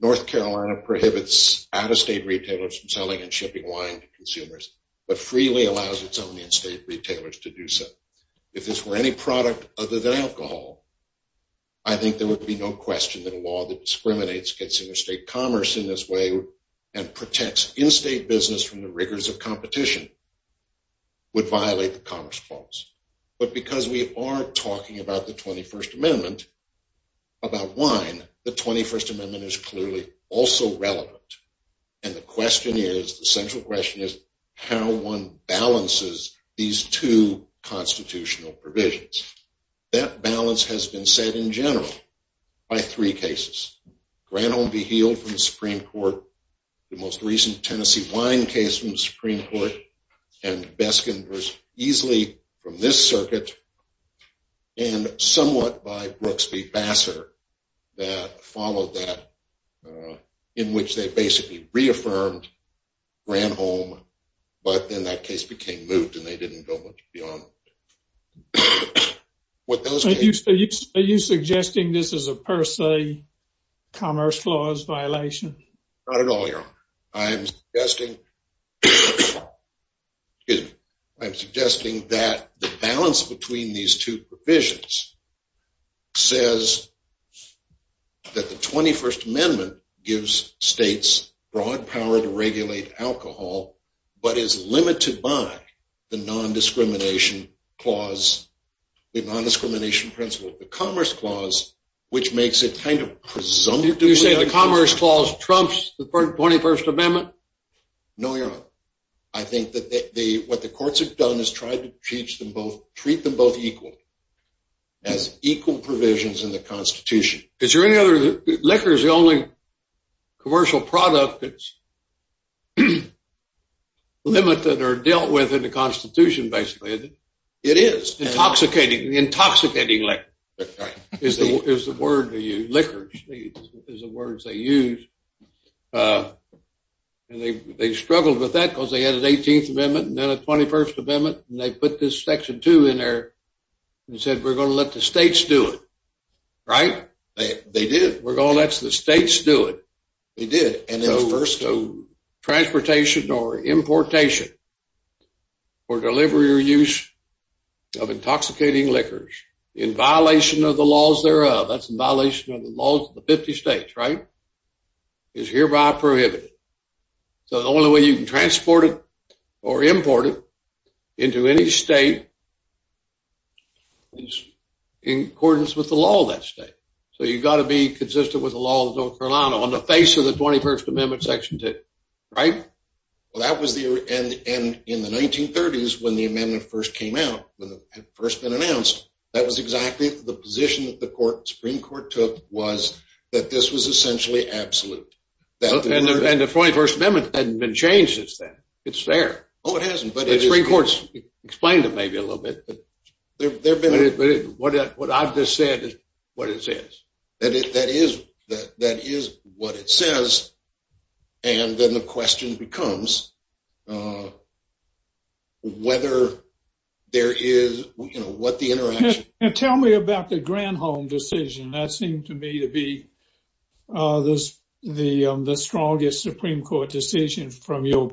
North Carolina prohibits out-of-state retailers from selling and shipping wine to consumers, but freely allows its own in-state retailers to do so. If this were any product other than alcohol, I think there would be no question that a law that discriminates consumer state commerce in this way and protects in-state business from the rigors of competition would violate the 21st Amendment. About wine, the 21st Amendment is clearly also relevant, and the question is, the central question is, how one balances these two constitutional provisions. That balance has been said in general by three cases. Granholm v. Heald from the Supreme Court, the most recent Brooks v. Bassar, in which they basically reaffirmed Granholm, but then that case became moved and they didn't go much beyond what those cases are. Are you suggesting this is a per se commerce clause violation? Not at all, Your Honor. I am suggesting that the balance between these two provisions says that the 21st Amendment gives states broad power to regulate alcohol, but is limited by the non-discrimination clause, the non-discrimination principle of the commerce clause, which makes it kind of presumptive. You're saying the commerce clause trumps the 21st Amendment? No, Your Honor. I think that what the courts have done is tried to treat them both equally, as equal provisions in the Constitution. Is there any other? Liquor is the only commercial product that's limited or dealt with in the Constitution, basically. It is. Intoxicating liquor is the word they use. They struggled with that because they had an 18th Amendment and then a 21st Amendment, and they put this section 2 in there and said, we're going to let the states do it, right? They did. We're going to let the states do it. They did. Transportation or importation or delivery or use of intoxicating liquors in violation of the laws thereof, that's in violation of the laws of the 50 states, right, is hereby prohibited. So the only way you can transport it or import it into any state is in accordance with the law of that state. So you've got to be consistent with the law of North Carolina. That was the case of the 21st Amendment section 2, right? Well, that was the, and in the 1930s, when the amendment first came out, when it had first been announced, that was exactly the position that the Supreme Court took was that this was essentially absolute. And the 21st Amendment hasn't been changed since then. It's there. Oh, it hasn't, but it is. The Supreme Court's explained it maybe a little bit. What I've just said is what it says. That is what it says. And then the question becomes whether there is, you know, what the interaction... Now tell me about the Granholm decision. That seemed to me to be the strongest Supreme Court decision from your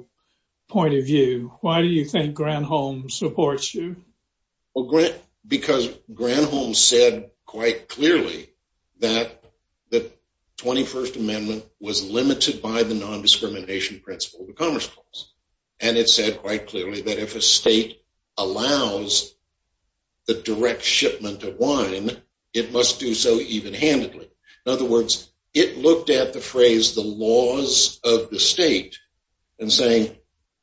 point of view. Why do you think Granholm supports you? Well, because Granholm said quite clearly that the 21st Amendment was limited by the non-discrimination principle of the Commerce Clause. And it said quite clearly that if a state allows the direct shipment of wine, it must do so even-handedly. In other words, it looked at the laws of the state and saying,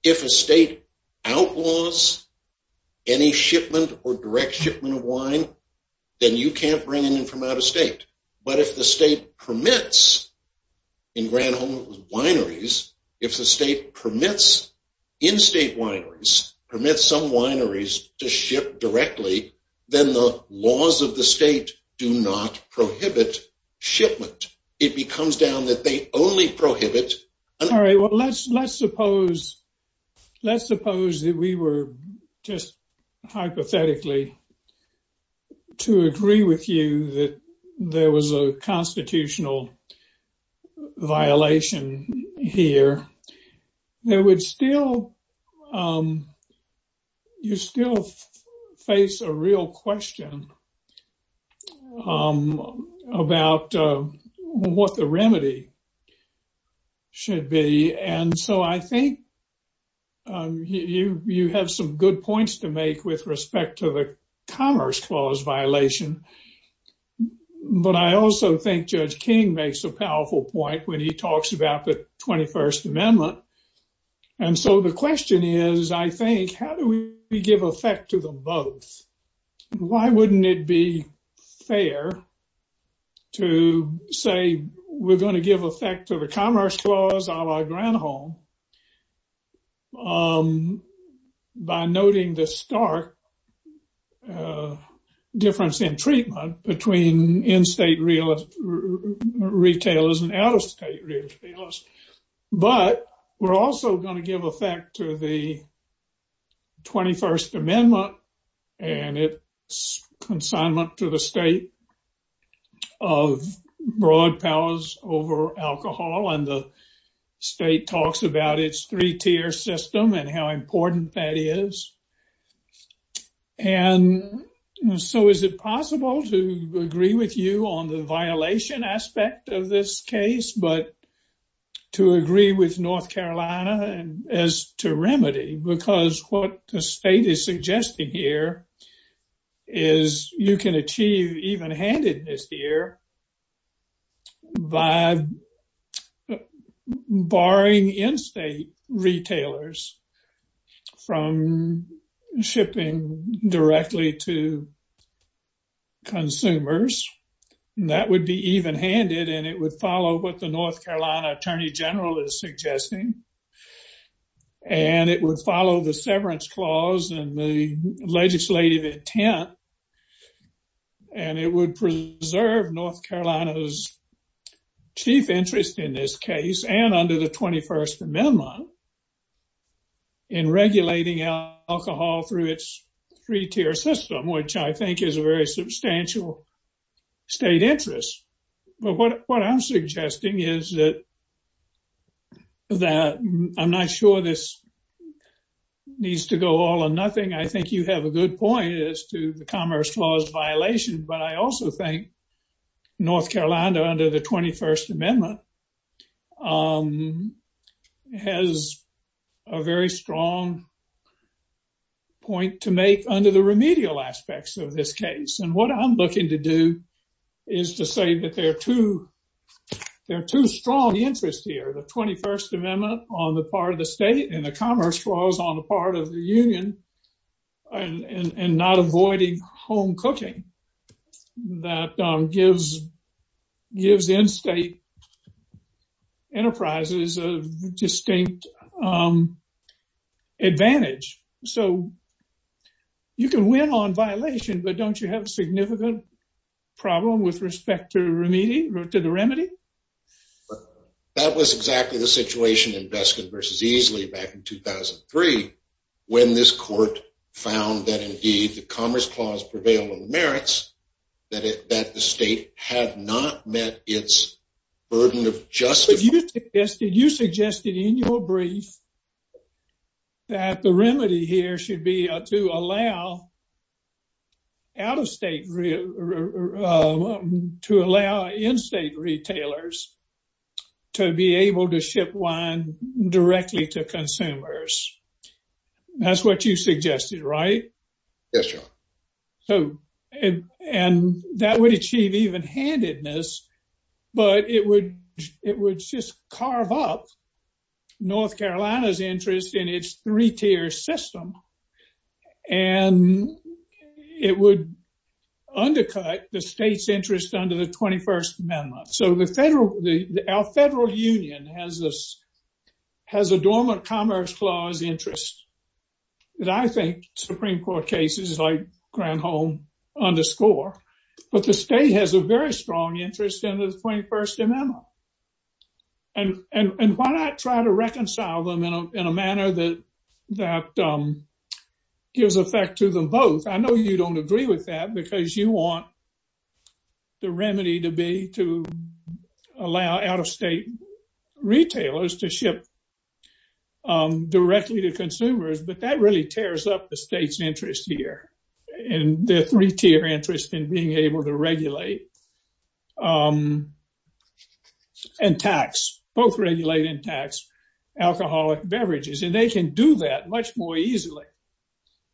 if a state outlaws any shipment or direct shipment of wine, then you can't bring it in from out of state. But if the state permits in Granholm wineries, if the state permits in-state wineries, permits some wineries to ship directly, then the laws of the state do not prohibit shipment. It becomes down that they only prohibit... All right. Well, let's suppose that we were just hypothetically to agree with you that there was a constitutional violation here. You still face a real question about what the remedy should be. And so I think you have some good points to make with respect to the Commerce Clause violation. But I also think Judge King makes a powerful point when he talks about the 21st Amendment. And so the question is, I think, how do we give effect to both? Why wouldn't it be fair to say we're going to give effect to the Commerce Clause a la Granholm by noting the stark difference in treatment between in-state retailers and out-of-state retailers? But we're also going to give effect to the 21st Amendment and its consignment to the state of broad powers over alcohol. And the state talks about its three-tier system and how important that is. And so is it possible to agree with you on the violation aspect of this case? But to agree with North Carolina as to remedy, because what the state is suggesting here is you can achieve even-handedness here by barring in-state retailers from shipping directly to North Carolina, Attorney General is suggesting. And it would follow the Severance Clause and the legislative intent. And it would preserve North Carolina's chief interest in this case and under the 21st Amendment in regulating alcohol through its three-tier system, which I think is a very strong point. I'm not sure this needs to go all or nothing. I think you have a good point as to the Commerce Clause violation. But I also think North Carolina under the 21st Amendment has a very strong point to make under the remedial aspects of this case. And what I'm looking to do is to say that there are two strong interests here, the 21st Amendment on the part of the state and the Commerce Clause on the part of the union and not avoiding home cooking that gives in-state enterprises a distinct advantage. So you can win on violation, but don't you have significant problem with respect to the remedy? That was exactly the situation in Beskin versus Easley back in 2003 when this court found that indeed the Commerce Clause prevailed on merits, that the state had not met its burden of justice. You suggested in your brief that the remedy here should be to allow out-of-state, to allow in-state retailers to be able to ship wine directly to consumers. That's what you suggested, right? Yes, John. So, and that would achieve even handedness, but it would just carve up North Carolina's interest in its three-tier system. And it would undercut the state's interest under the 21st Amendment. So our federal union has a dormant Commerce Clause interest that I think Supreme Court cases like Granholm underscore, but the state has a very strong interest in the 21st Amendment. And why not try to reconcile them in a manner that gives effect to them both? I know you don't agree with that because you want the remedy to be to allow out-of-state retailers to ship directly to consumers, but that really tears up the state's interest here and their three-tier interest in being able to regulate and tax, both regulate and tax alcoholic beverages. And they can do that much more easily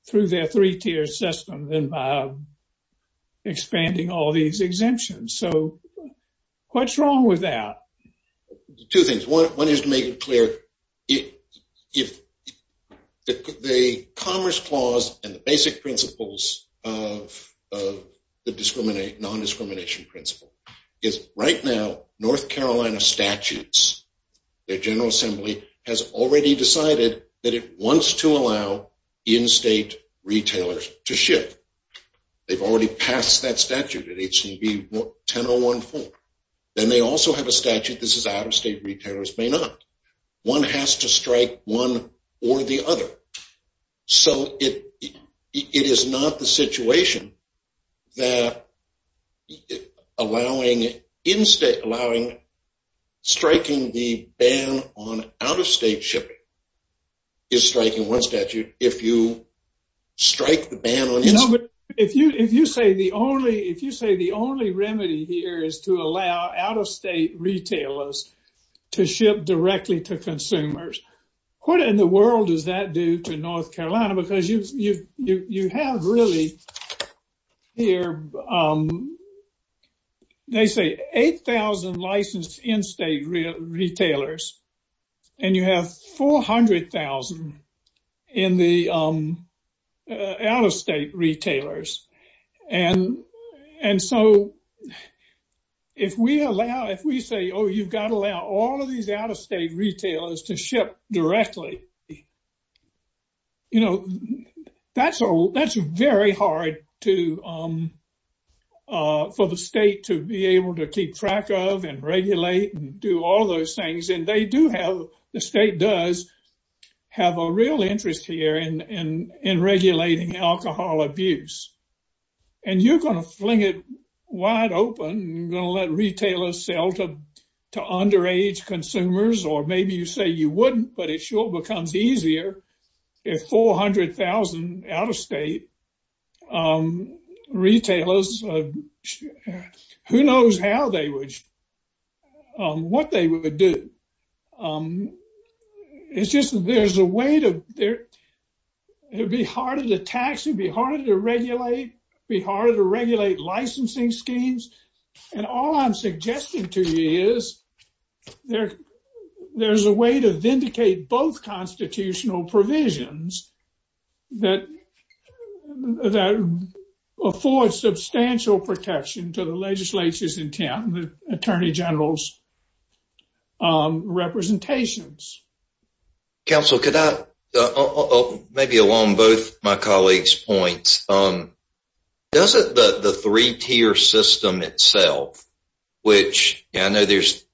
through their three-tier system than by expanding all these exemptions. So what's wrong with that? Two things. One is to make it clear. The Commerce Clause and the basic principles of the non-discrimination principle is right now, North Carolina statutes, their General Assembly has already decided that it wants to allow in-state retailers to ship. They've already passed that statute at H-1014. Then they also have a statute that says out-of-state retailers may not. One has to strike one or the other. So it is not the situation that allowing in-state, allowing striking the ban on out-of-state shipping is striking one statute. If you strike the ban on... You know, but if you say the only remedy here is to allow out-of-state retailers to ship directly to consumers, what in the world does that do to North Carolina? Because you have really here, they say 8,000 licensed in-state retailers, and you have 400,000 in the out-of-state retailers. And so if we say, oh, you've got to allow all of these out-of-state retailers to ship directly, you know, that's very hard for the state to be able to keep track of and regulate and do all those things. And they do have, the state does, have a real interest here in regulating alcohol abuse. And you're going to fling it wide open and you're going to let consumers, or maybe you say you wouldn't, but it sure becomes easier if 400,000 out-of-state retailers, who knows how they would, what they would do. It's just, there's a way to, it'd be harder to tax, it'd be harder to regulate, be harder to regulate licensing schemes. And all I'm suggesting to you is there's a way to vindicate both constitutional provisions that afford substantial protection to the legislature's intent and the Attorney General's representations. Counsel, could I, maybe along both my colleagues' points, doesn't the three-tier system itself, which I know there's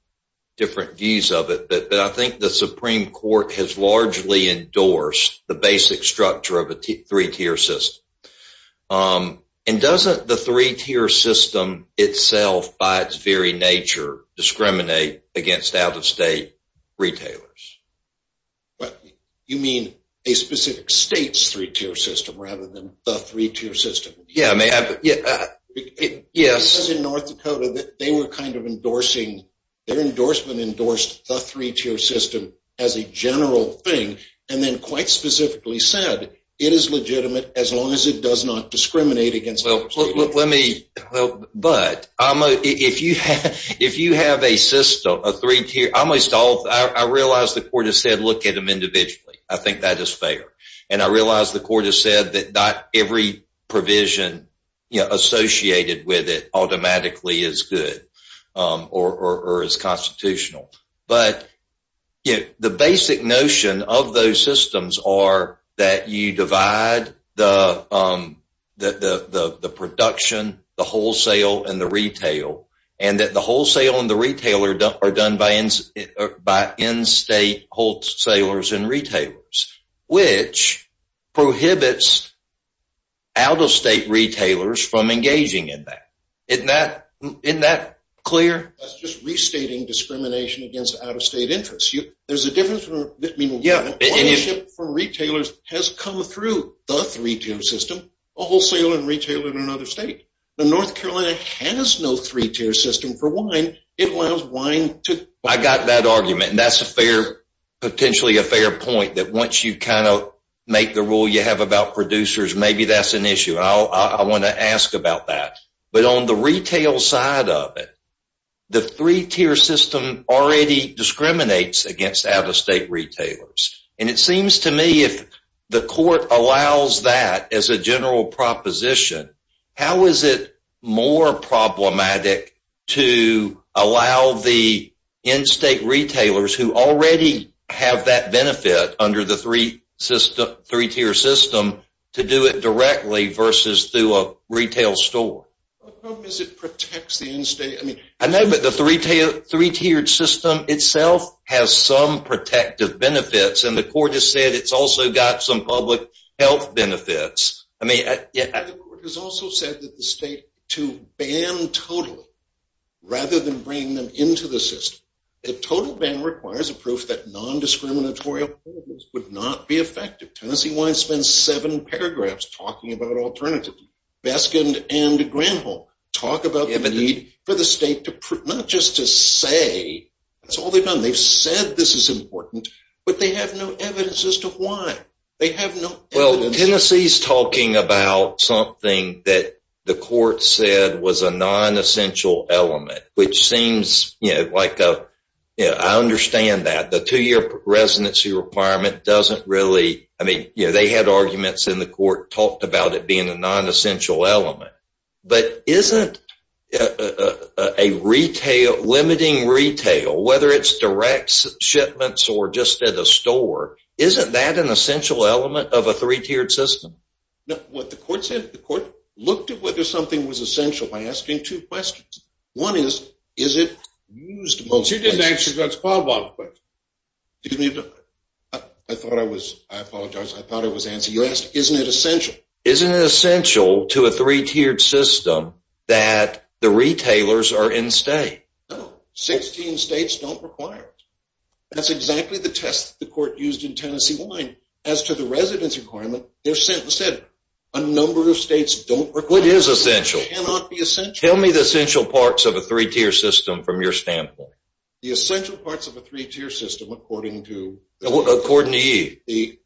different views of it, but I think the Supreme Court has largely endorsed the basic structure of a three-tier system. And doesn't the three-tier system itself by its very nature discriminate against out-of-state retailers? What, you mean a specific state's three-tier system rather than the three-tier system? Yeah, I mean, yes. Because in North Dakota, they were kind of endorsing, their endorsement endorsed the three-tier system as a general thing and then quite specifically said it is legitimate as well. But if you have a system, a three-tier, almost all, I realize the court has said, look at them individually. I think that is fair. And I realize the court has said that not every provision associated with it automatically is good or is constitutional. But the basic notion of those systems are that you divide the production, the wholesale, and the retail. And that the wholesale and the retail are done by in-state wholesalers and retailers, which prohibits out-of-state retailers from engaging in that. Isn't that clear? That's just restating discrimination against out-of-state interests. There's a difference in ownership for retailers has come through the three-tier system, a wholesale and retail in another state. The North Carolina has no three-tier system for wine. It allows wine to... I got that argument and that's a fair, potentially a fair point that once you kind of make the rule you have about producers, maybe that's an issue. I want to ask about that. But on the retail side of it, the three-tier system already discriminates against out-of-state retailers. And it seems to me if the court allows that as a general proposition, how is it more problematic to allow the in-state retailers who already have that benefit under the three-tier system to do it directly versus through a retail store? How does it protect the in-state? I mean, I know that the three-tiered system itself has some protective benefits and the court has said it's also got some public health benefits. I mean, yeah. The court has also said that the state to ban totally rather than bring them into the system. A total ban requires a proof that paragraphs talking about alternatives. Baskin and Granholm talk about the need for the state to not just to say that's all they've done. They've said this is important, but they have no evidence as to why. They have no evidence. Well, Tennessee's talking about something that the court said was a non-essential element, which seems like a... I understand that. The court talked about it being a non-essential element, but isn't a retail, limiting retail, whether it's direct shipments or just at a store, isn't that an essential element of a three-tiered system? No. What the court said, the court looked at whether something was essential by asking two questions. One is, is it used most... You didn't answer that spot. Excuse me. I thought I was... I apologize. I thought it was answered. You asked, isn't it essential? Isn't it essential to a three-tiered system that the retailers are in-state? No. 16 states don't require it. That's exactly the test the court used in Tennessee Wine. As to the residence requirement, they're sent instead. A number of states don't require it. What is essential? It cannot be essential. Tell me the essential parts of a three-tier system from your standpoint. The essential parts of a three-tier system, according to... According to you.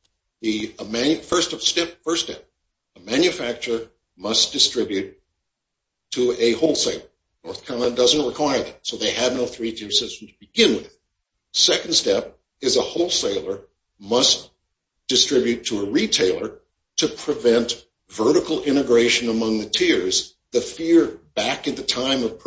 First step, a manufacturer must distribute to a wholesaler. North Carolina doesn't require that, so they have no three-tier system to begin with. Second step is a wholesaler must distribute to a retailer to prevent vertical integration among the tiers. The fear back at the time of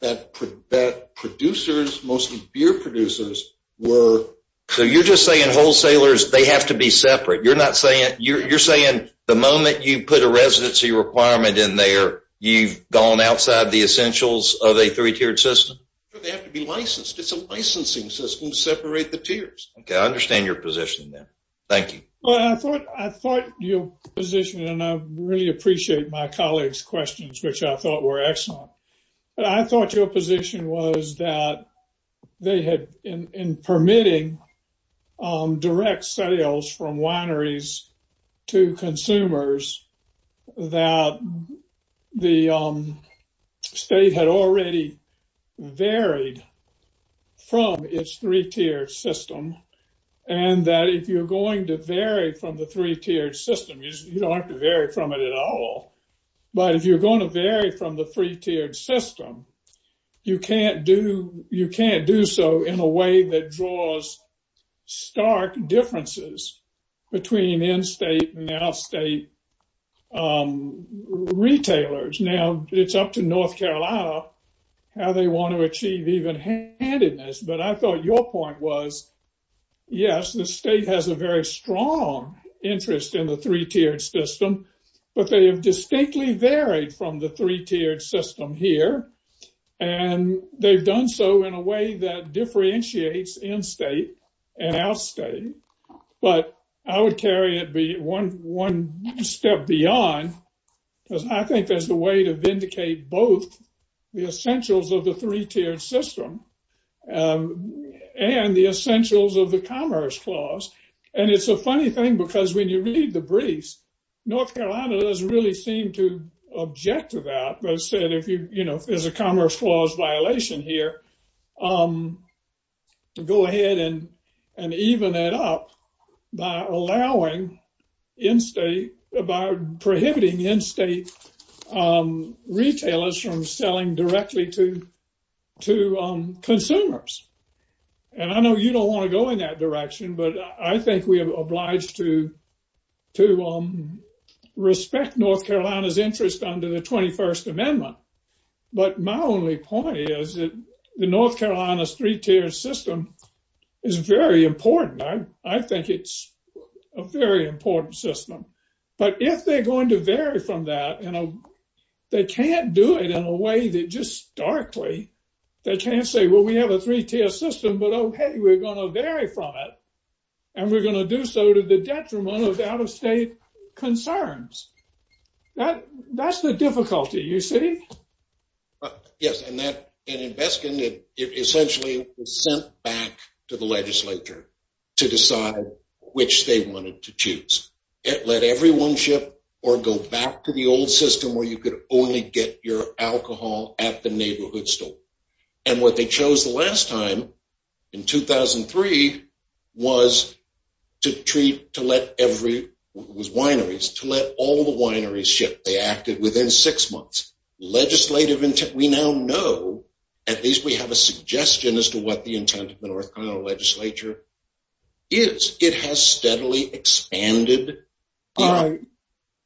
that, producers, mostly beer producers, were... So you're just saying wholesalers, they have to be separate. You're not saying... You're saying the moment you put a residency requirement in there, you've gone outside the essentials of a three-tiered system? They have to be licensed. It's a licensing system to separate the tiers. Okay. I understand your position then. Thank you. Well, I thought your position, and I really appreciate my colleagues' questions, which I thought were excellent. But I thought your position was that they had, in permitting direct sales from wineries to consumers, that the state had already varied from its three-tiered system, and that if you're going to vary from the three-tiered system, you don't have to vary from it at all. But if you're going to vary from the three-tiered system, you can't do so in a way that draws stark differences between in-state and out-state retailers. Now, it's up to North Carolina how they want to achieve even handedness, but I thought your point was, yes, the state has a very strong interest in the three-tiered system, but they have distinctly varied from the three-tiered system here, and they've done so in a way that differentiates in-state and out-state. But I would carry it one step beyond, because I think there's a way to vindicate both the essentials of the three-tiered system and the essentials of the Commerce Clause. And it's a funny thing, because when you read the briefs, North Carolina doesn't really seem to object to that, but said if there's a Commerce Clause violation here, go ahead and even that up by allowing in-state, by prohibiting in-state retailers from selling directly to consumers. And I know you don't want to go in that direction, but I think we are obliged to respect North Carolina's interest under the 21st Amendment. But my only point is that the North Carolina's three-tiered system is very important. I think it's a very important system. But if they're going to vary from that, they can't do it in a way that just starkly, they can't say, well, we have a three-tiered system, but okay, we're going to vary from it, and we're going to do so to the detriment of out-of-state concerns. That's the difficulty, you see? Yes, and that investment essentially was sent back to the legislature to decide which they wanted to choose. Let everyone ship or go back to the old system where you could only get your alcohol at the neighborhood store. And what they chose the last time in 2003 was to treat, to let every, it was wineries, to let all the wineries ship. They acted within six months. Legislative intent, we now know, at least we have a suggestion as to what the intent of the North Carolina legislature is. It has steadily expanded. All right.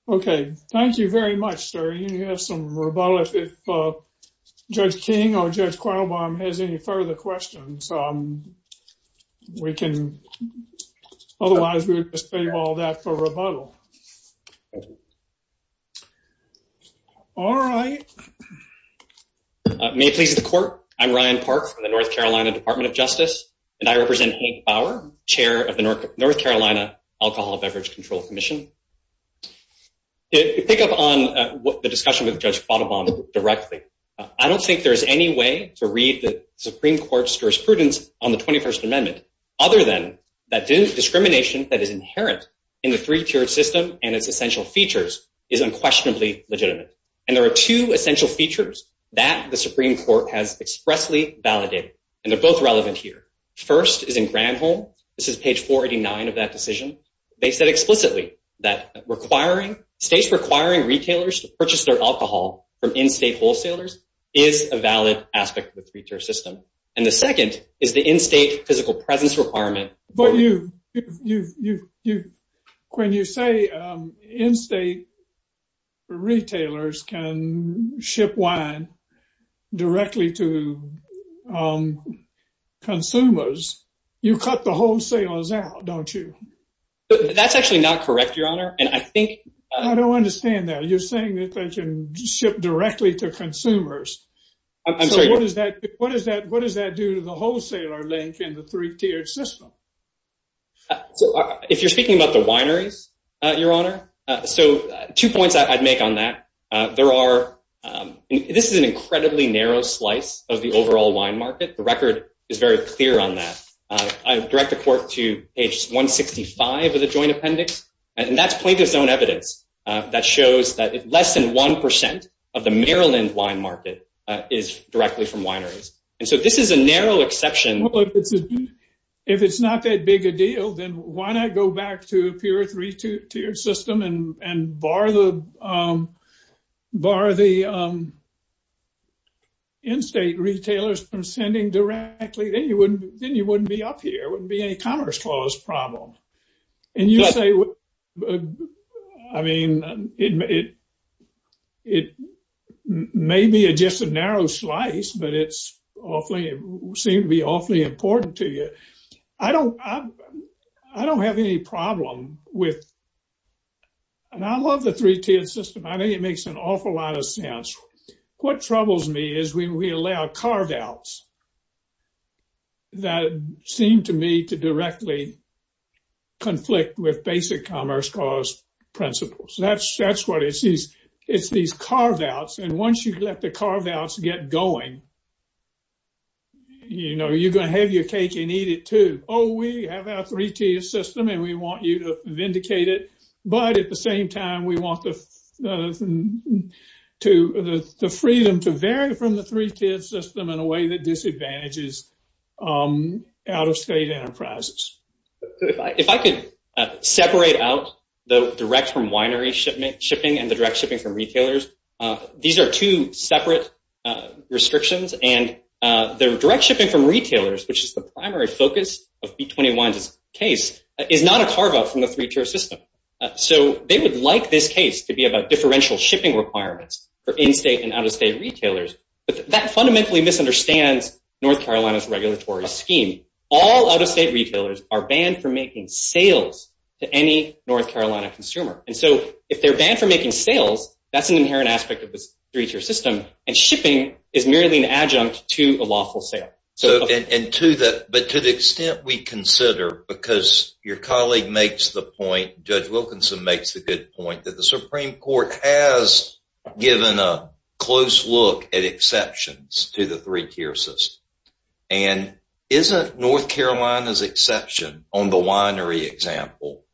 Okay. Thank you very much, sir. You have some rebuttal. If Judge King or Judge Quaylebaum has any further questions, we can, otherwise we would just leave all that for rebuttal. All right. May it please the court. I'm Ryan Park from the North Carolina Department of Justice, and I represent Hank Bauer, chair of the North Carolina Alcohol Beverage Control Commission. To pick up on the discussion with Judge Quaylebaum directly, I don't think there is any way to read the Supreme Court's jurisprudence on the 21st Amendment, other than that discrimination that is inherent in the three-tiered system and its essential features is unquestionably legitimate. There are two essential features that the Supreme Court has expressly validated, and they're both relevant here. First is in Granholm. This is page 489 of that decision. They said explicitly that states requiring retailers to purchase their alcohol from in-state wholesalers is a valid aspect of the three-tiered system. The second is the in-state physical requirement. When you say in-state retailers can ship wine directly to consumers, you cut the wholesalers out, don't you? That's actually not correct, Your Honor. I don't understand that. You're saying that they can ship directly to consumers. So what does that do to the wholesaler link in the three-tiered system? If you're speaking about the wineries, Your Honor, two points I'd make on that. This is an incredibly narrow slice of the overall wine market. The record is very clear on that. I direct the Court to page 165 of the Joint Appendix, and that's plaintiff's own evidence that shows that less than 1% of the Maryland wine market is directly from wineries. And so this is a narrow exception. Well, if it's not that big a deal, then why not go back to a pure three-tiered system and bar the in-state retailers from sending directly? Then you wouldn't be up here. It wouldn't be any Commerce Clause problem. And you say, I mean, it may be just a narrow slice, but it seems to be awfully important to you. I don't have any problem with, and I love the three-tiered system. I think it makes an awful lot of sense. What troubles me is when we allow carve-outs that seem to me to directly conflict with basic Commerce Clause principles. That's what it is. It's these carve-outs, and once you let the carve-outs get going, you know, you're going to have your cake and eat it too. Oh, we have our three-tiered system, and we want you to vindicate it. But at the same time, we want the freedom to vary from the three-tiered system in a way that disadvantages out-of-state enterprises. If I could separate out the direct from winery shipping and the direct shipping from retailers, these are two separate restrictions. And the direct shipping from retailers, which is the primary focus of B-21's case, is not a carve-out from the three-tiered system. So they would like this case to be about differential shipping requirements for in-state and out-of-state retailers. But that fundamentally misunderstands North Carolina's regulatory scheme. All out-of-state retailers are banned from making sales to any North Carolina consumer. And so if they're banned from making sales, that's an inherent aspect of this three-tiered system, and shipping is merely an adjunct to a lawful sale. But to the extent we consider, because your colleague makes the point, Judge Wilkinson makes the good point, that the Supreme Court has given a close look at exceptions to the three-tier system. And isn't North Carolina's exception on the winery example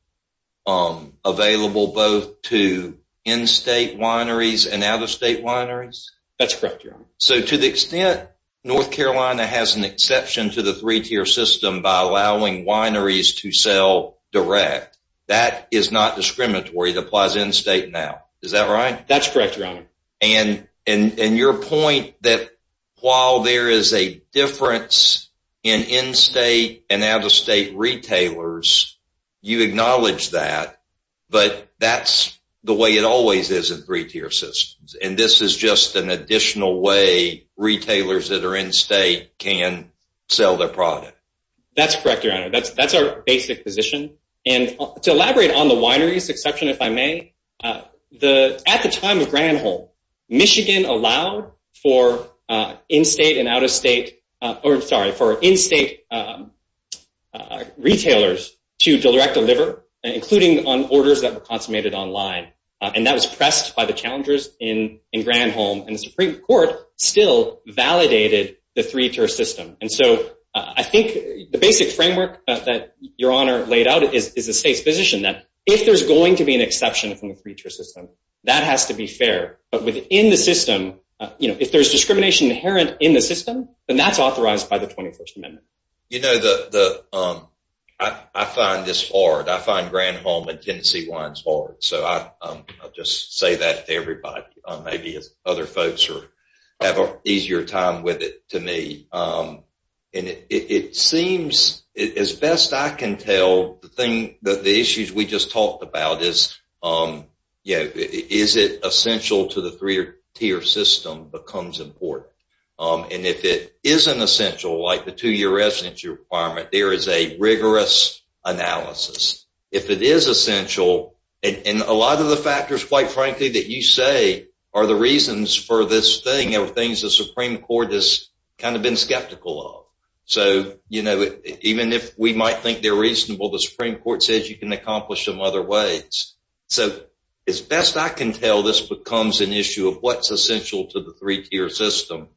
available both to in-state wineries and out-of-state wineries? That's correct, Your Honor. So to the extent North Carolina has an exception to the three-tier system by allowing wineries to sell direct, that is not discriminatory. It applies in-state now. Is that right? That's correct, Your Honor. And your point that while there is a difference in in-state and out-of-state retailers, you acknowledge that, but that's the way it always is in three-tier systems. And this is just an additional way retailers that are in-state can sell their product. That's correct, Your Honor. That's our basic position. And to elaborate on the wineries exception, if I may, at the time of Granholm, Michigan allowed for in-state and out-of-state, or sorry, for in-state retailers to direct deliver, including on orders that were consummated online. And that was pressed by the challengers in Granholm. And the Supreme Court still validated the three-tier system. And so I think the basic framework that Your Honor laid out is the state's that if there's going to be an exception from the three-tier system, that has to be fair. But within the system, if there's discrimination inherent in the system, then that's authorized by the 21st Amendment. You know, I find this hard. I find Granholm and Tennessee wines hard. So I'll just say that to everybody, maybe other folks who have an easier time with it to me. And it seems, as best I can tell, the thing that the issues we just talked about is, you know, is it essential to the three-tier system becomes important. And if it isn't essential, like the two-year residency requirement, there is a rigorous analysis. If it is essential, and a lot of the factors, quite frankly, that you say are the reasons for this thing are things the Supreme Court has kind of been skeptical of. So, you know, even if we might think they're reasonable, the Supreme Court says you can accomplish them other ways. So as best I can tell, this becomes an issue of what's essential to the three-tier system.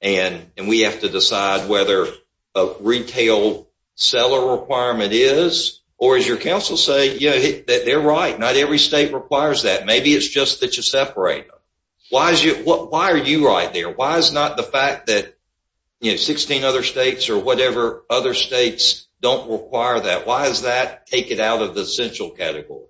And we have to decide whether a retail seller requirement is, or as your counsel say, you know, that they're right. Not every state requires that. Maybe it's just that you separate them. Why are you right there? Why is not the fact that, you know, 16 other states or whatever other states don't require that? Why does that take it out of the essential category?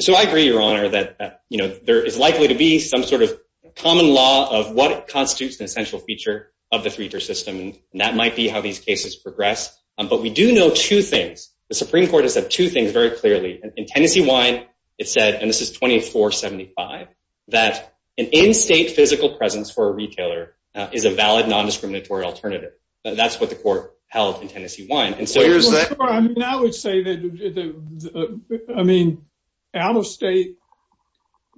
So I agree, Your Honor, that, you know, there is likely to be some sort of common law of what constitutes an essential feature of the three-tier system. And that might be how these cases progress. But we do know two things. The Supreme Court has said two things very clearly. In Tennessee Wine, it said, and this is 2475, that an in-state physical presence for a retailer is a valid non-discriminatory alternative. That's what the court held in Tennessee Wine. And so here's that. Well, sure. I mean, I would say that, I mean, out-of-state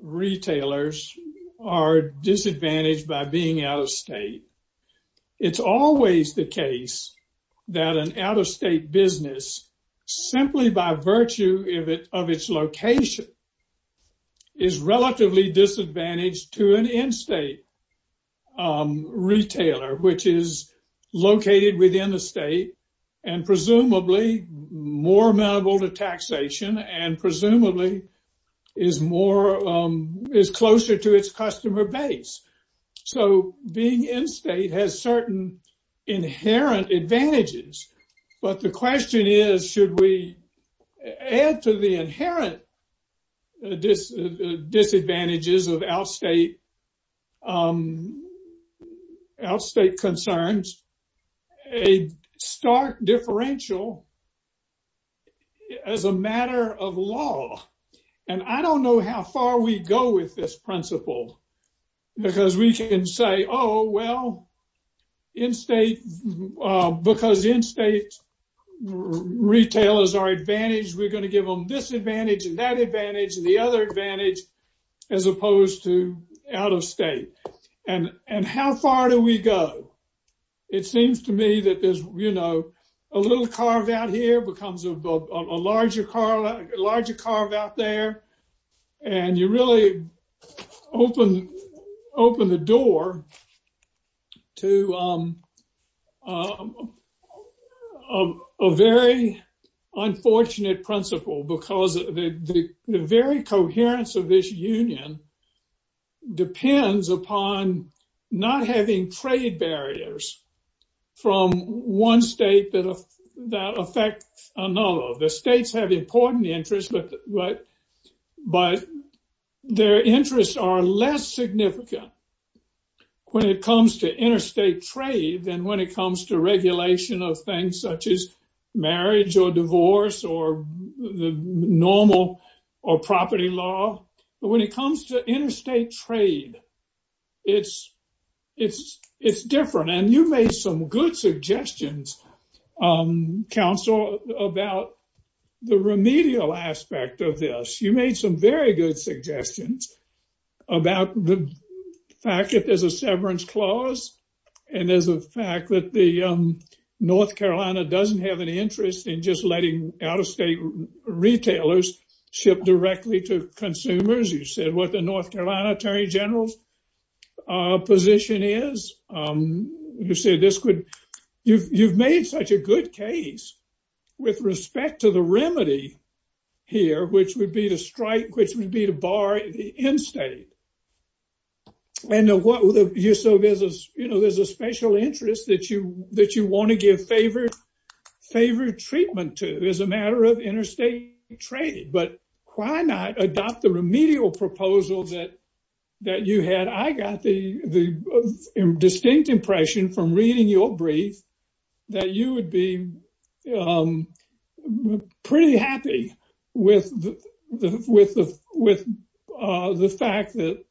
retailers are disadvantaged by being out-of-state. It's always the case that an out-of-state business, simply by virtue of its location, is relatively disadvantaged to an in-state retailer, which is located within the state and presumably more amenable to taxation and presumably is closer to its customer base. So being in-state has certain inherent advantages. But the question is, should we add to the inherent disadvantages of out-of-state concerns a stark differential as a matter of law? And I don't know how far we go with this principle, because we can say, oh, well, because in-state retailers are advantaged, we're going to give them this advantage and that advantage and the other advantage as opposed to out-of-state. And how far do we go? It seems to me that there's, you know, a little carve out here becomes a larger carve out there. And you really open the door to a very unfortunate principle because the very coherence of this union depends upon not having trade barriers from one state that affect another. The states have important interests, but their interests are less significant when it comes to interstate trade than when it comes to regulation of things such as marriage or divorce or the normal or property law. But when it comes to interstate trade, it's different. And you made some good suggestions, counsel, about the remedial aspect of this. You made some very good suggestions about the fact that there's a severance clause and there's a fact that North Carolina doesn't have an interest in just letting out-of-state retailers ship directly to consumers. You said what the North Carolina Attorney General's position is. You said this could, you've made such a good case with respect to the remedy here, which would be to strike, which would be to bar the in-state. And what you saw is, you know, there's a special interest that you want to give favor treatment to as a matter of interstate trade. But why not adopt the remedial proposal that you had? I got the distinct impression from reading your brief that you would be pretty happy with the fact that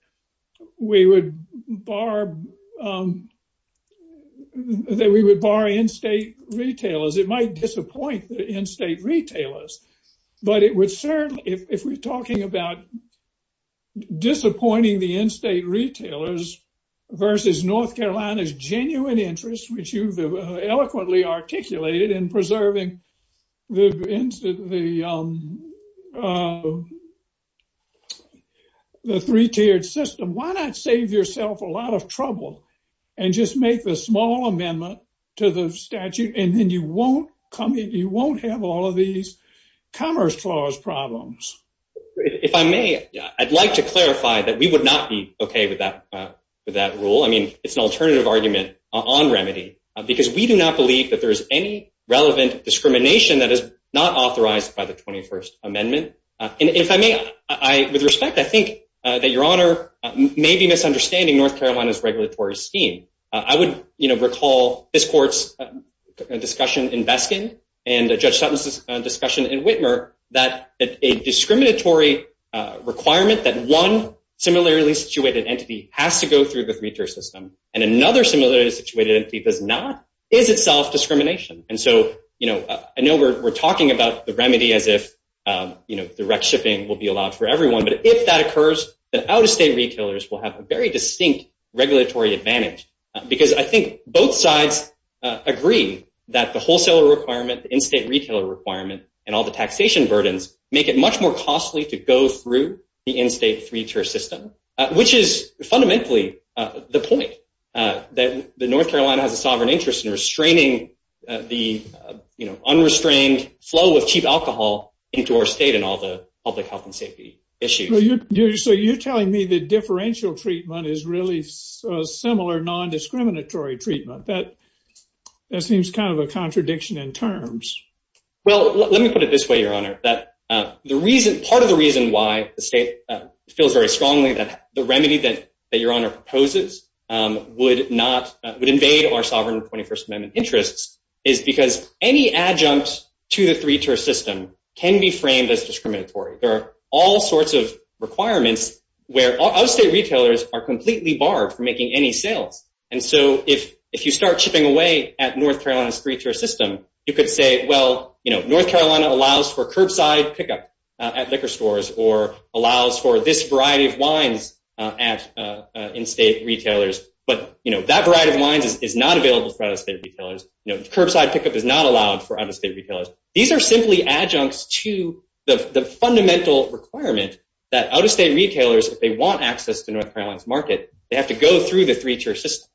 we would bar in-state retailers. It might disappoint the in-state disappointing the in-state retailers versus North Carolina's genuine interest, which you've eloquently articulated in preserving the three-tiered system. Why not save yourself a lot of trouble and just make the small amendment to the statute? And then you won't have all of these problems. If I may, I'd like to clarify that we would not be okay with that rule. I mean, it's an alternative argument on remedy because we do not believe that there is any relevant discrimination that is not authorized by the 21st Amendment. And if I may, with respect, I think that Your Honor may be misunderstanding North Carolina's regulatory scheme. I would, you know, recall this court's discussion in Beskin and Judge Sutton's discussion in Whitmer that a discriminatory requirement that one similarly situated entity has to go through the three-tier system and another similarly situated entity does not is itself discrimination. And so, you know, I know we're talking about the remedy as if, you know, direct shipping will be allowed for everyone. But if that occurs, then out-of-state retailers will have a very distinct regulatory advantage because I think both sides agree that the wholesaler requirement, the in-state retailer requirement, and all the taxation burdens make it much more costly to go through the in-state three-tier system, which is fundamentally the point that North Carolina has a sovereign interest in restraining the, you know, unrestrained flow of cheap alcohol into our state and all the public health and safety issues. So you're telling me the differential treatment is really similar non-discriminatory treatment. That seems kind of a contradiction in terms. Well, let me put it this way, Your Honor, that part of the reason why the state feels very strongly that the remedy that Your Honor proposes would invade our sovereign 21st Amendment interests is because any adjunct to the three-tier system can be framed as discriminatory. There are all sorts of requirements where out-of-state retailers are completely barred from making any sales. And so if you start shipping away at North Carolina's three-tier system, you could say, well, you know, North Carolina allows for curbside pickup at liquor stores or allows for this variety of wines at in-state retailers. But, you know, that variety of wines is not available for out-of-state retailers. You know, curbside pickup is not allowed for out-of-state retailers. These are simply adjuncts to the if they want access to North Carolina's market, they have to go through the three-tier system.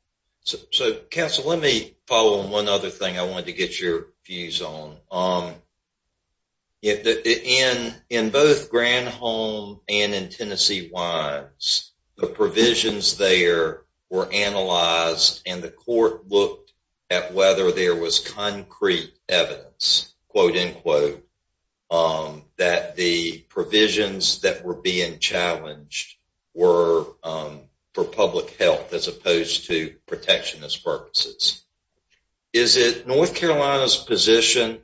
So counsel, let me follow on one other thing I wanted to get your views on. In both Granholm and in Tennessee wines, the provisions there were analyzed and the court looked at whether there was concrete evidence, quote unquote, that the provisions that were being challenged were for public health as opposed to protectionist purposes. Is it North Carolina's position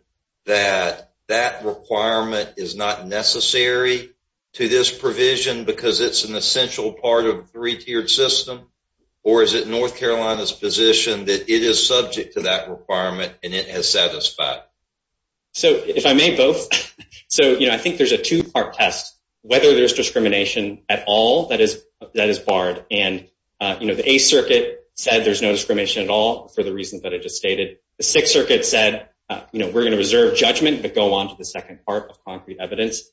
that that requirement is not necessary to this provision because it's an essential part of and it has satisfied? So if I may, both. So, you know, I think there's a two-part test, whether there's discrimination at all that is barred. And, you know, the Eighth Circuit said there's no discrimination at all for the reasons that I just stated. The Sixth Circuit said, you know, we're going to reserve judgment but go on to the second part of concrete evidence.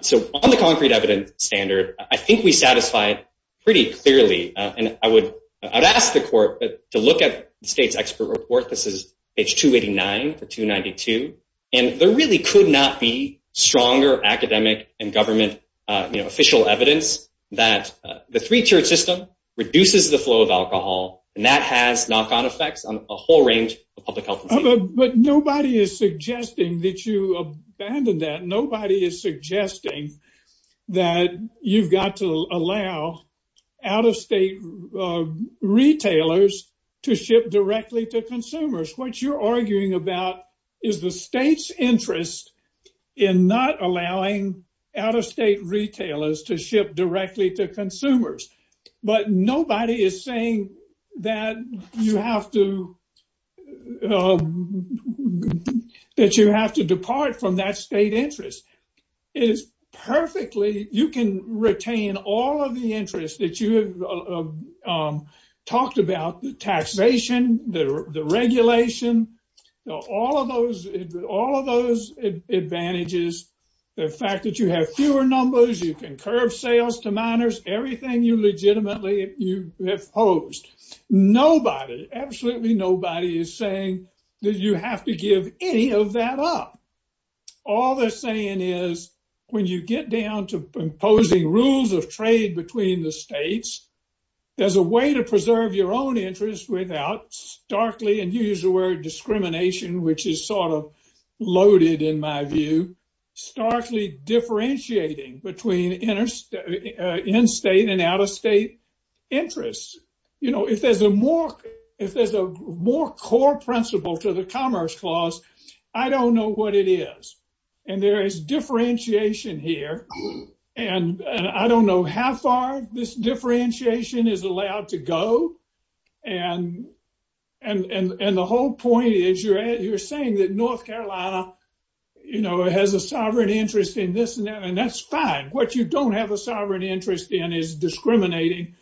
So on the concrete evidence standard, I think we satisfy it pretty clearly. And I would ask the report, this is page 289 to 292, and there really could not be stronger academic and government, you know, official evidence that the three-tiered system reduces the flow of alcohol and that has knock-on effects on a whole range of public health. But nobody is suggesting that you abandon that. Nobody is suggesting that you've got to allow out-of-state retailers to ship directly to consumers. What you're arguing about is the state's interest in not allowing out-of-state retailers to ship directly to consumers. But nobody is saying that you have to depart from that state interest. It is perfectly, you can retain all of the interest that you have talked about, the taxation, the regulation, all of those advantages, the fact that you have fewer numbers, you can curb sales to minors, everything you legitimately you have posed. Nobody, absolutely nobody is saying that you have to give any of that up. All they're saying is, when you get down to imposing rules of trade between the states, there's a way to preserve your own interest without starkly, and you used the word discrimination, which is sort of loaded in my view, starkly differentiating between in-state and out-of-state interests. You know, if there's a more core principle to the Commerce Clause, I don't know what it is. And there is differentiation here, and I don't know how far this differentiation is allowed to go. And the whole point is, you're saying that North Carolina has a sovereign interest in this and that, and that's fine. What you don't have a sovereign interest in is discriminating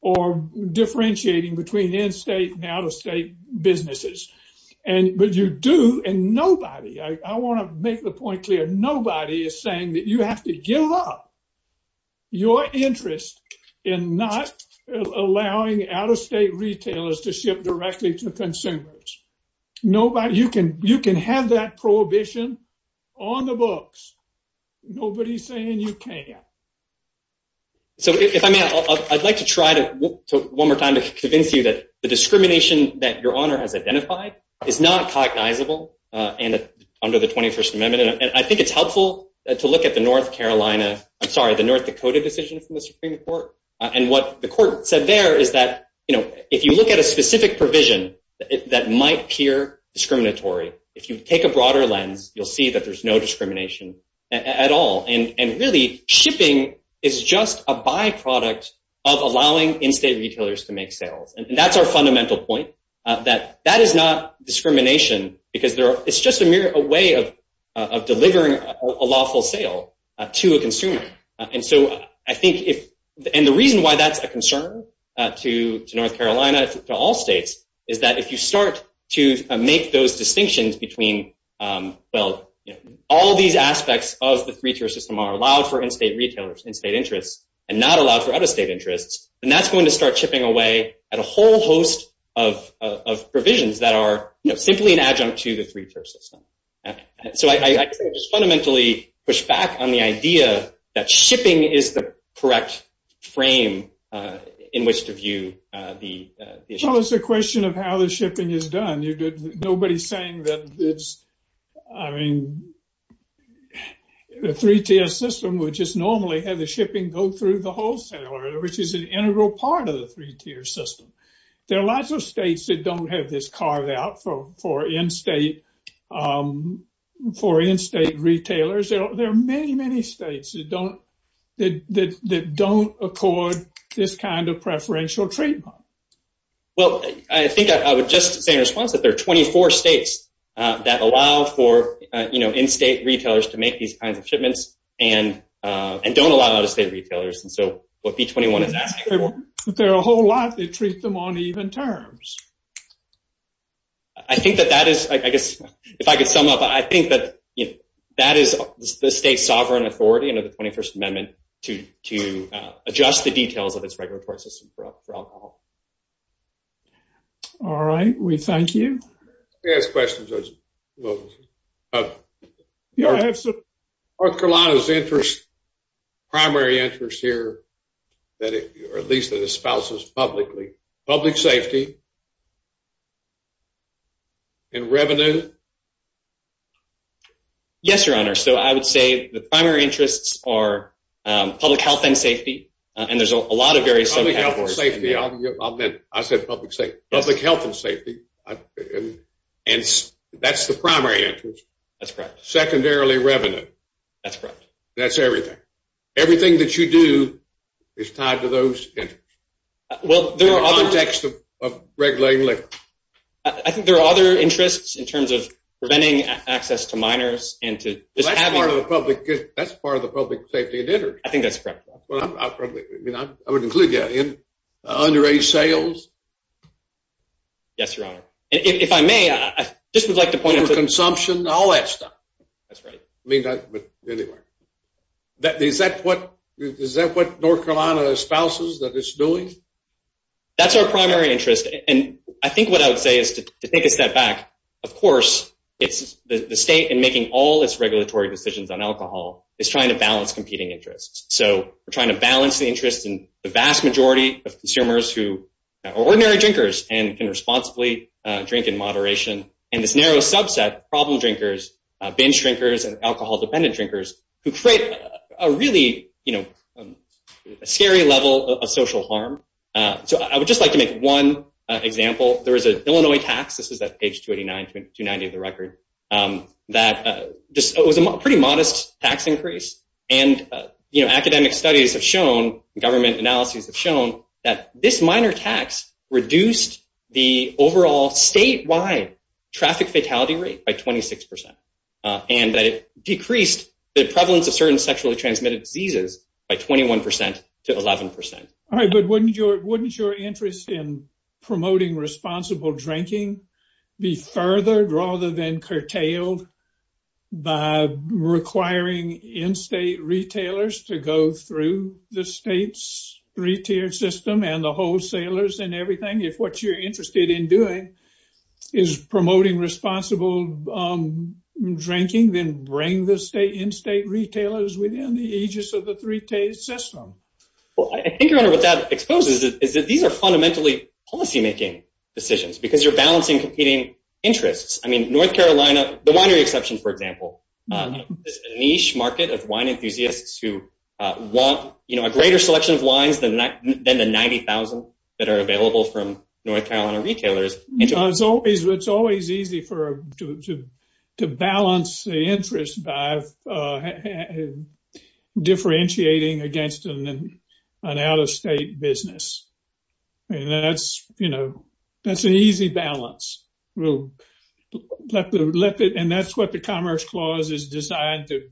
or differentiating between in-state and out-of-state businesses. And, but you do, and nobody, I want to make the point clear, nobody is saying that you have to give up your interest in not allowing out-of-state retailers to ship directly to consumers. Nobody, you can, you can have that prohibition on the books. Nobody's saying you can't. So if I may, I'd like to try to one more time to convince you that the discrimination that your honor has identified is not cognizable under the 21st Amendment. And I think it's helpful to look at the North Carolina, I'm sorry, the North Dakota decision from the Supreme Court. And what the court said there is that, you know, if you look at a specific provision that might appear discriminatory, if you take a broader lens, you'll see that there's no discrimination at all. And really, shipping is just a byproduct of allowing in-state retailers to make sales. And that's our fundamental point, that that is not discrimination, because there are, it's just a mere way of delivering a lawful sale to a consumer. And so I think if, and the reason why that's a concern to North Carolina, to all states, is that if you start to make those distinctions between, well, you know, all these aspects of the three-tier system are allowed for in-state retailers, in-state interests, and not allowed for out-of-state interests, then that's going to start chipping away at a whole host of provisions that are, you know, simply an adjunct to the three-tier system. So I just fundamentally push back on the idea that shipping is the correct frame in which to view the issue. Well, it's a question of how the shipping is done. Nobody's saying that it's, I mean, the three-tier system would just normally have the shipping go through the wholesaler, which is an integral part of the three-tier system. There are lots of states that don't have this carved out for in-state, for in-state retailers. There are many, many states that don't, that don't accord this kind of preferential treatment. Well, I think I would just say in response that there are 24 states that allow for, you know, in-state retailers to make these kinds of shipments and don't allow out-of-state retailers. And so what B-21 is asking for... But there are a whole lot that treat them on even terms. I think that that is, I guess, if I could sum up, I think that, you know, that is the state sovereign authority under the 21st Amendment to adjust the details of its regulatory system for alcohol. All right. We thank you. Ask questions. North Carolina's interest, primary interest here, or at least that espouses publicly, public safety and revenue? Yes, your honor. So I would say the primary interests are public health and safety, and there's a lot of various... Public health and safety, I meant, I said public safety, public health and safety. And that's the primary interest. That's correct. Secondarily, revenue. That's correct. That's everything. Everything that you do is tied to those interests. Well, there are other... In the context of regulating liquor. I think there are other interests in terms of preventing access to minors and to just having... That's part of the public safety and interest. I think that's correct. Well, I mean, I would include, yeah, underage sales. Yes, your honor. And if I may, I just would like to point out... Over consumption, all that stuff. That's right. I mean, but anyway, is that what North Carolina espouses that it's doing? That's our primary interest. And I think what I would say is to take a step back. Of course, it's the state and making all its regulatory decisions on alcohol is trying to balance competing interests. So we're trying to balance the interest in the vast majority of consumers who are ordinary drinkers and can responsibly drink in moderation. And this narrow subset, problem drinkers, binge drinkers, and alcohol dependent drinkers, who create a really scary level of social harm. So I would just like to make one example. There was an Illinois tax. This is at page 289, 290 of the record. That was a pretty modest tax increase. And academic studies have shown, government analyses have shown, that this minor tax reduced the overall statewide traffic fatality rate by 26%. And that it decreased the prevalence of certain sexually transmitted diseases by 21% to 11%. All right, but wouldn't your interest in promoting responsible drinking be furthered rather than curtailed by requiring in-state retailers to go through the state's three-tiered system and the wholesalers and everything? If what you're interested in doing is promoting responsible drinking, then bring the in-state retailers within the aegis of the three-tiered system. Well, I think, Your Honor, what that exposes is that these are fundamentally policymaking decisions because you're balancing competing interests. I mean, North Carolina, the winery exception, for example, is a niche market of wine enthusiasts who want a greater selection of wines than the 90,000 that are available from North Carolina retailers. It's always easy to balance the interest by differentiating against an out-of-state business. And that's an easy balance. Well, and that's what the Commerce Clause is designed to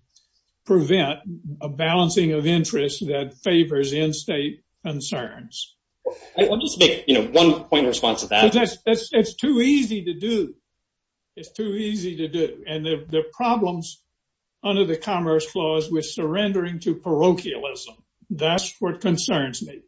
prevent, a balancing of interests that favors in-state concerns. I'll just make one point in response to that. It's too easy to do. It's too easy to do. And the problems under the Commerce Clause with surrendering to parochialism, that's what concerns me.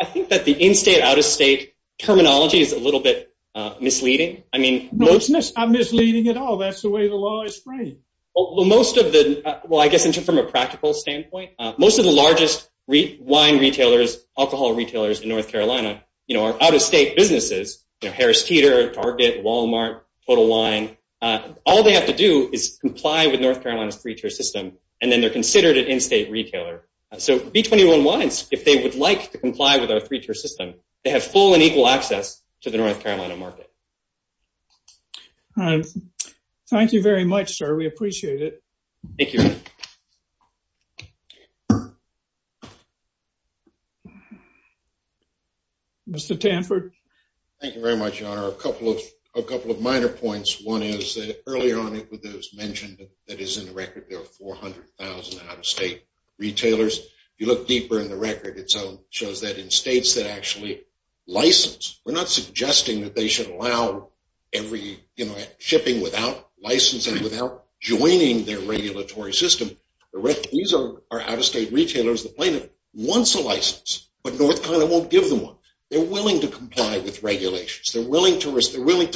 I think that the in-state, out-of-state terminology is a little bit misleading. No, it's not misleading at all. That's the way the law is framed. Well, most of the, well, I guess, from a practical standpoint, most of the largest wine retailers, alcohol retailers in North Carolina are out-of-state businesses, Harris Teeter, Target, Walmart, Total Wine. All they have to do is comply with North Carolina's three-tier system, and then they're considered an in-state retailer. So B21 wines, if they would like to comply with our three-tier system, they have full and equal access to the North Carolina market. All right. Thank you very much, sir. We appreciate it. Thank you. Mr. Tanford. Thank you very much, Your Honor. A couple of minor points. One is that earlier on, it was mentioned that is in the record, there are 400,000 out-of-state retailers. If you look deeper in the record, it shows that in states that actually license, we're not suggesting that they should allow every, you know, shipping without licensing, without joining their regulatory system. These are our out-of-state retailers. The plaintiff wants a license, but North Carolina won't give them one. They're willing to comply with regulations. They're willing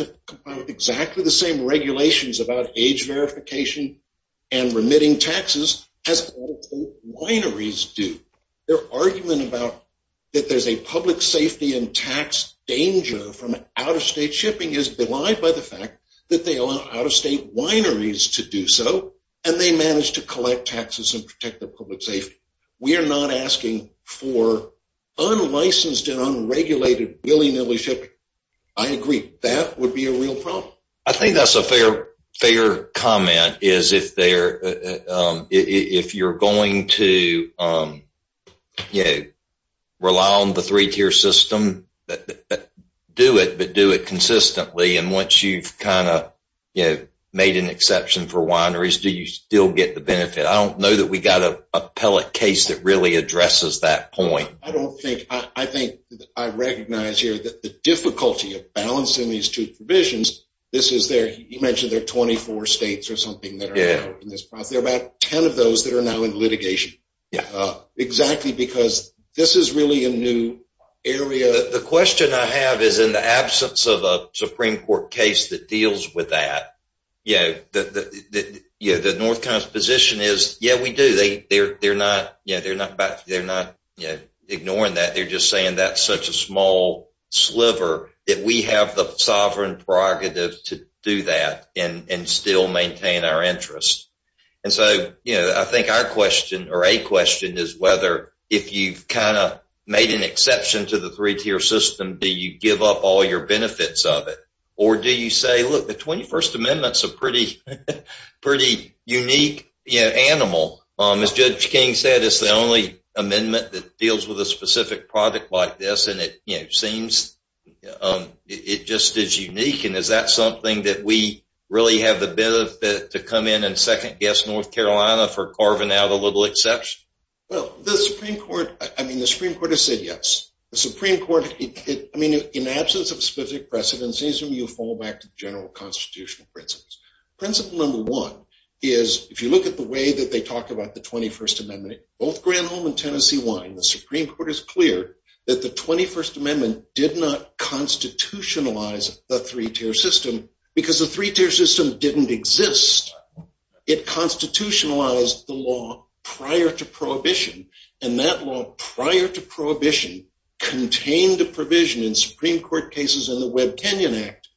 to comply with exactly the same regulations about age verification and remitting taxes as all wineries do. Their argument about that there's a public safety and tax danger from out-of-state shipping is belied by the fact that they allow out-of-state wineries to do so, and they manage to collect taxes and protect the public safety. We are not asking for unlicensed and unregulated willy-nilly shipping. I agree. That would be a real problem. I think that's a fair comment, is if you're going to, you know, rely on the three-tier system, do it, but do it consistently. And once you've kind of, you know, made an exception for wineries, do you still get the benefit? I don't know that we got a pellet case that really addresses that point. I don't think, I think I recognize here that the difficulty of balancing these two provisions is there, you mentioned there are 24 states or something that are in this process. There are about 10 of those that are now in litigation. Exactly because this is really a new area. The question I have is in the absence of a Supreme Court case that deals with that, you know, the North Carolina position is, yeah, we do. They're not, you know, they're not ignoring that. They're just saying that's such a small sliver that we have the sovereign prerogative to do that and still maintain our interest. And so, you know, I think our question or a question is whether, if you've kind of made an exception to the three-tier system, do you give up all your benefits of it? Or do you say, look, the 21st Amendment's a pretty unique animal. As Judge King said, it's the only amendment that deals with a specific project like this. And it, you know, seems it just is unique. And is that something that we really have the benefit to come in and second-guess North Carolina for carving out a little exception? Well, the Supreme Court, I mean, the Supreme Court has said yes. The Supreme Court, I mean, in the absence of specific precedents, it seems to me you fall back to general constitutional principles. Principle number one is, if you look at the way that they talk about the 21st Amendment, both Granholm and Tennessee wine, the Supreme Court is clear that the 21st Amendment did not constitutionalize the three-tier system because the three-tier system didn't exist. It constitutionalized the law prior to prohibition. And that law prior to prohibition contained a provision in Supreme Court cases and the Webb-Kenyon Act,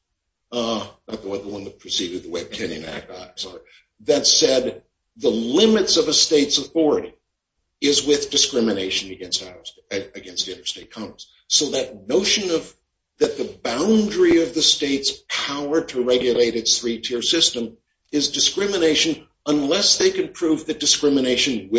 not the one that preceded the Webb-Kenyon Act, I'm sorry, that said the limits of a state's authority is with discrimination against interstate commerce. So that notion of that the boundary of the state's power to regulate its three-tier system is discrimination unless they can prove that discrimination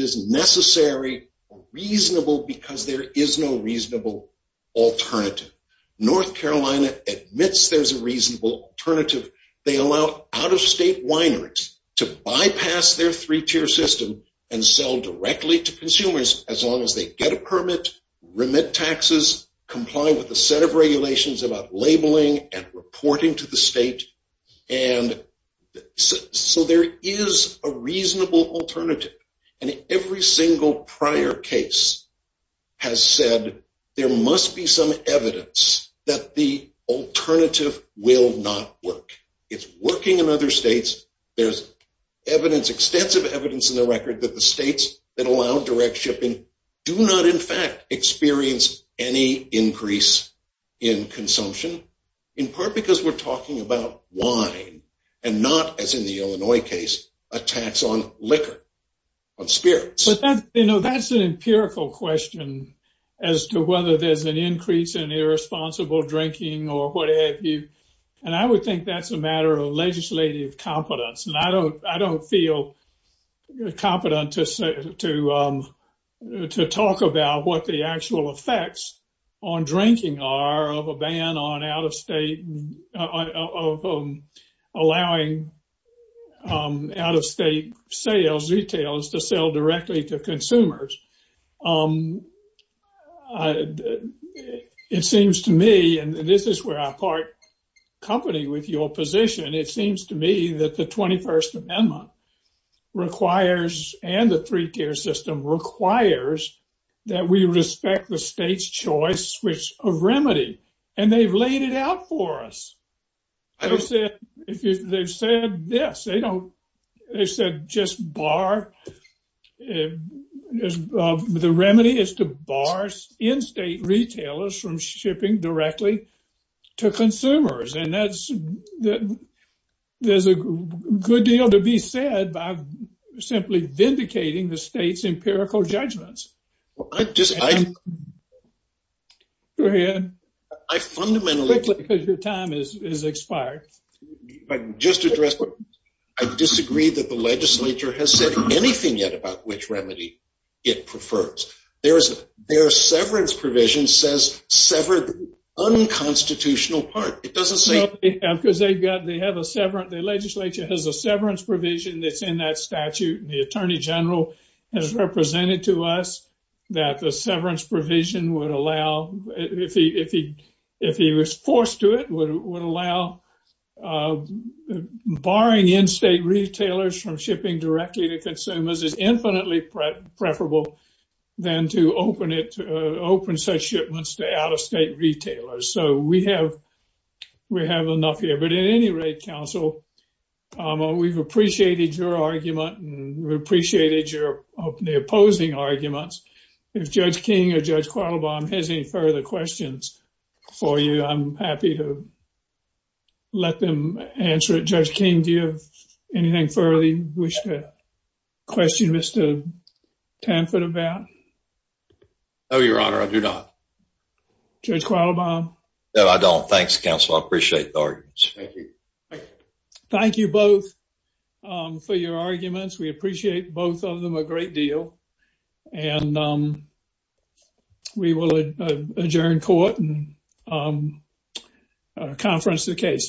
is necessary or reasonable because there is no reasonable alternative. North Carolina admits there's a reasonable alternative. They allow out-of-state wineries to bypass their three-tier system and sell directly to consumers as long as they get a permit, remit taxes, comply with a set of regulations about labeling and reporting to the state. And so there is a reasonable alternative. And every single prior case has said there must be some evidence that the alternative will not work. It's working in other states. There's evidence, extensive evidence, in the record that the states that allow direct shipping do not, in fact, experience any increase in consumption, in part because we're talking about wine and not, as in the Illinois case, a tax on liquor. But that's an empirical question as to whether there's an increase in irresponsible drinking or what have you. And I would think that's a matter of legislative competence. And I don't feel competent to talk about what the actual effects on drinking are of a ban on out-of-state, of allowing out-of-state sales, retails to sell directly to consumers. It seems to me, and this is where I part company with your position, it seems to me that the 21st Amendment requires and the three-tier system requires that we respect the state's choice of remedy. And they've laid it out for us. They've said this, they don't, they said just bar, the remedy is to bar in-state retailers from shipping directly to consumers. And that's, there's a good deal to be said by simply vindicating the state's empirical judgments. I just, I, I fundamentally, Quickly, because your time is expired. If I can just address, I disagree that the legislature has said anything yet about which remedy it prefers. There is, their severance provision says severed unconstitutional part. It doesn't say, Because they've got, they have a severance, the legislature has a severance provision that's in that statute. The Attorney General has represented to us that the severance provision would allow, if he was forced to it, would allow barring in-state retailers from shipping directly to consumers is infinitely preferable than to open it, to open such shipments to out-of-state retailers. So we have, we have enough here. At any rate, Counsel, we've appreciated your argument and we appreciated your, of the opposing arguments. If Judge King or Judge Quattlebaum has any further questions for you, I'm happy to let them answer it. Judge King, do you have anything further you wish to question Mr. Tamford about? No, Your Honor, I do not. Judge Quattlebaum? No, I don't. Thanks, Counsel. I appreciate the arguments. Thank you. Thank you both for your arguments. We appreciate both of them a great deal. And we will adjourn court and conference the case.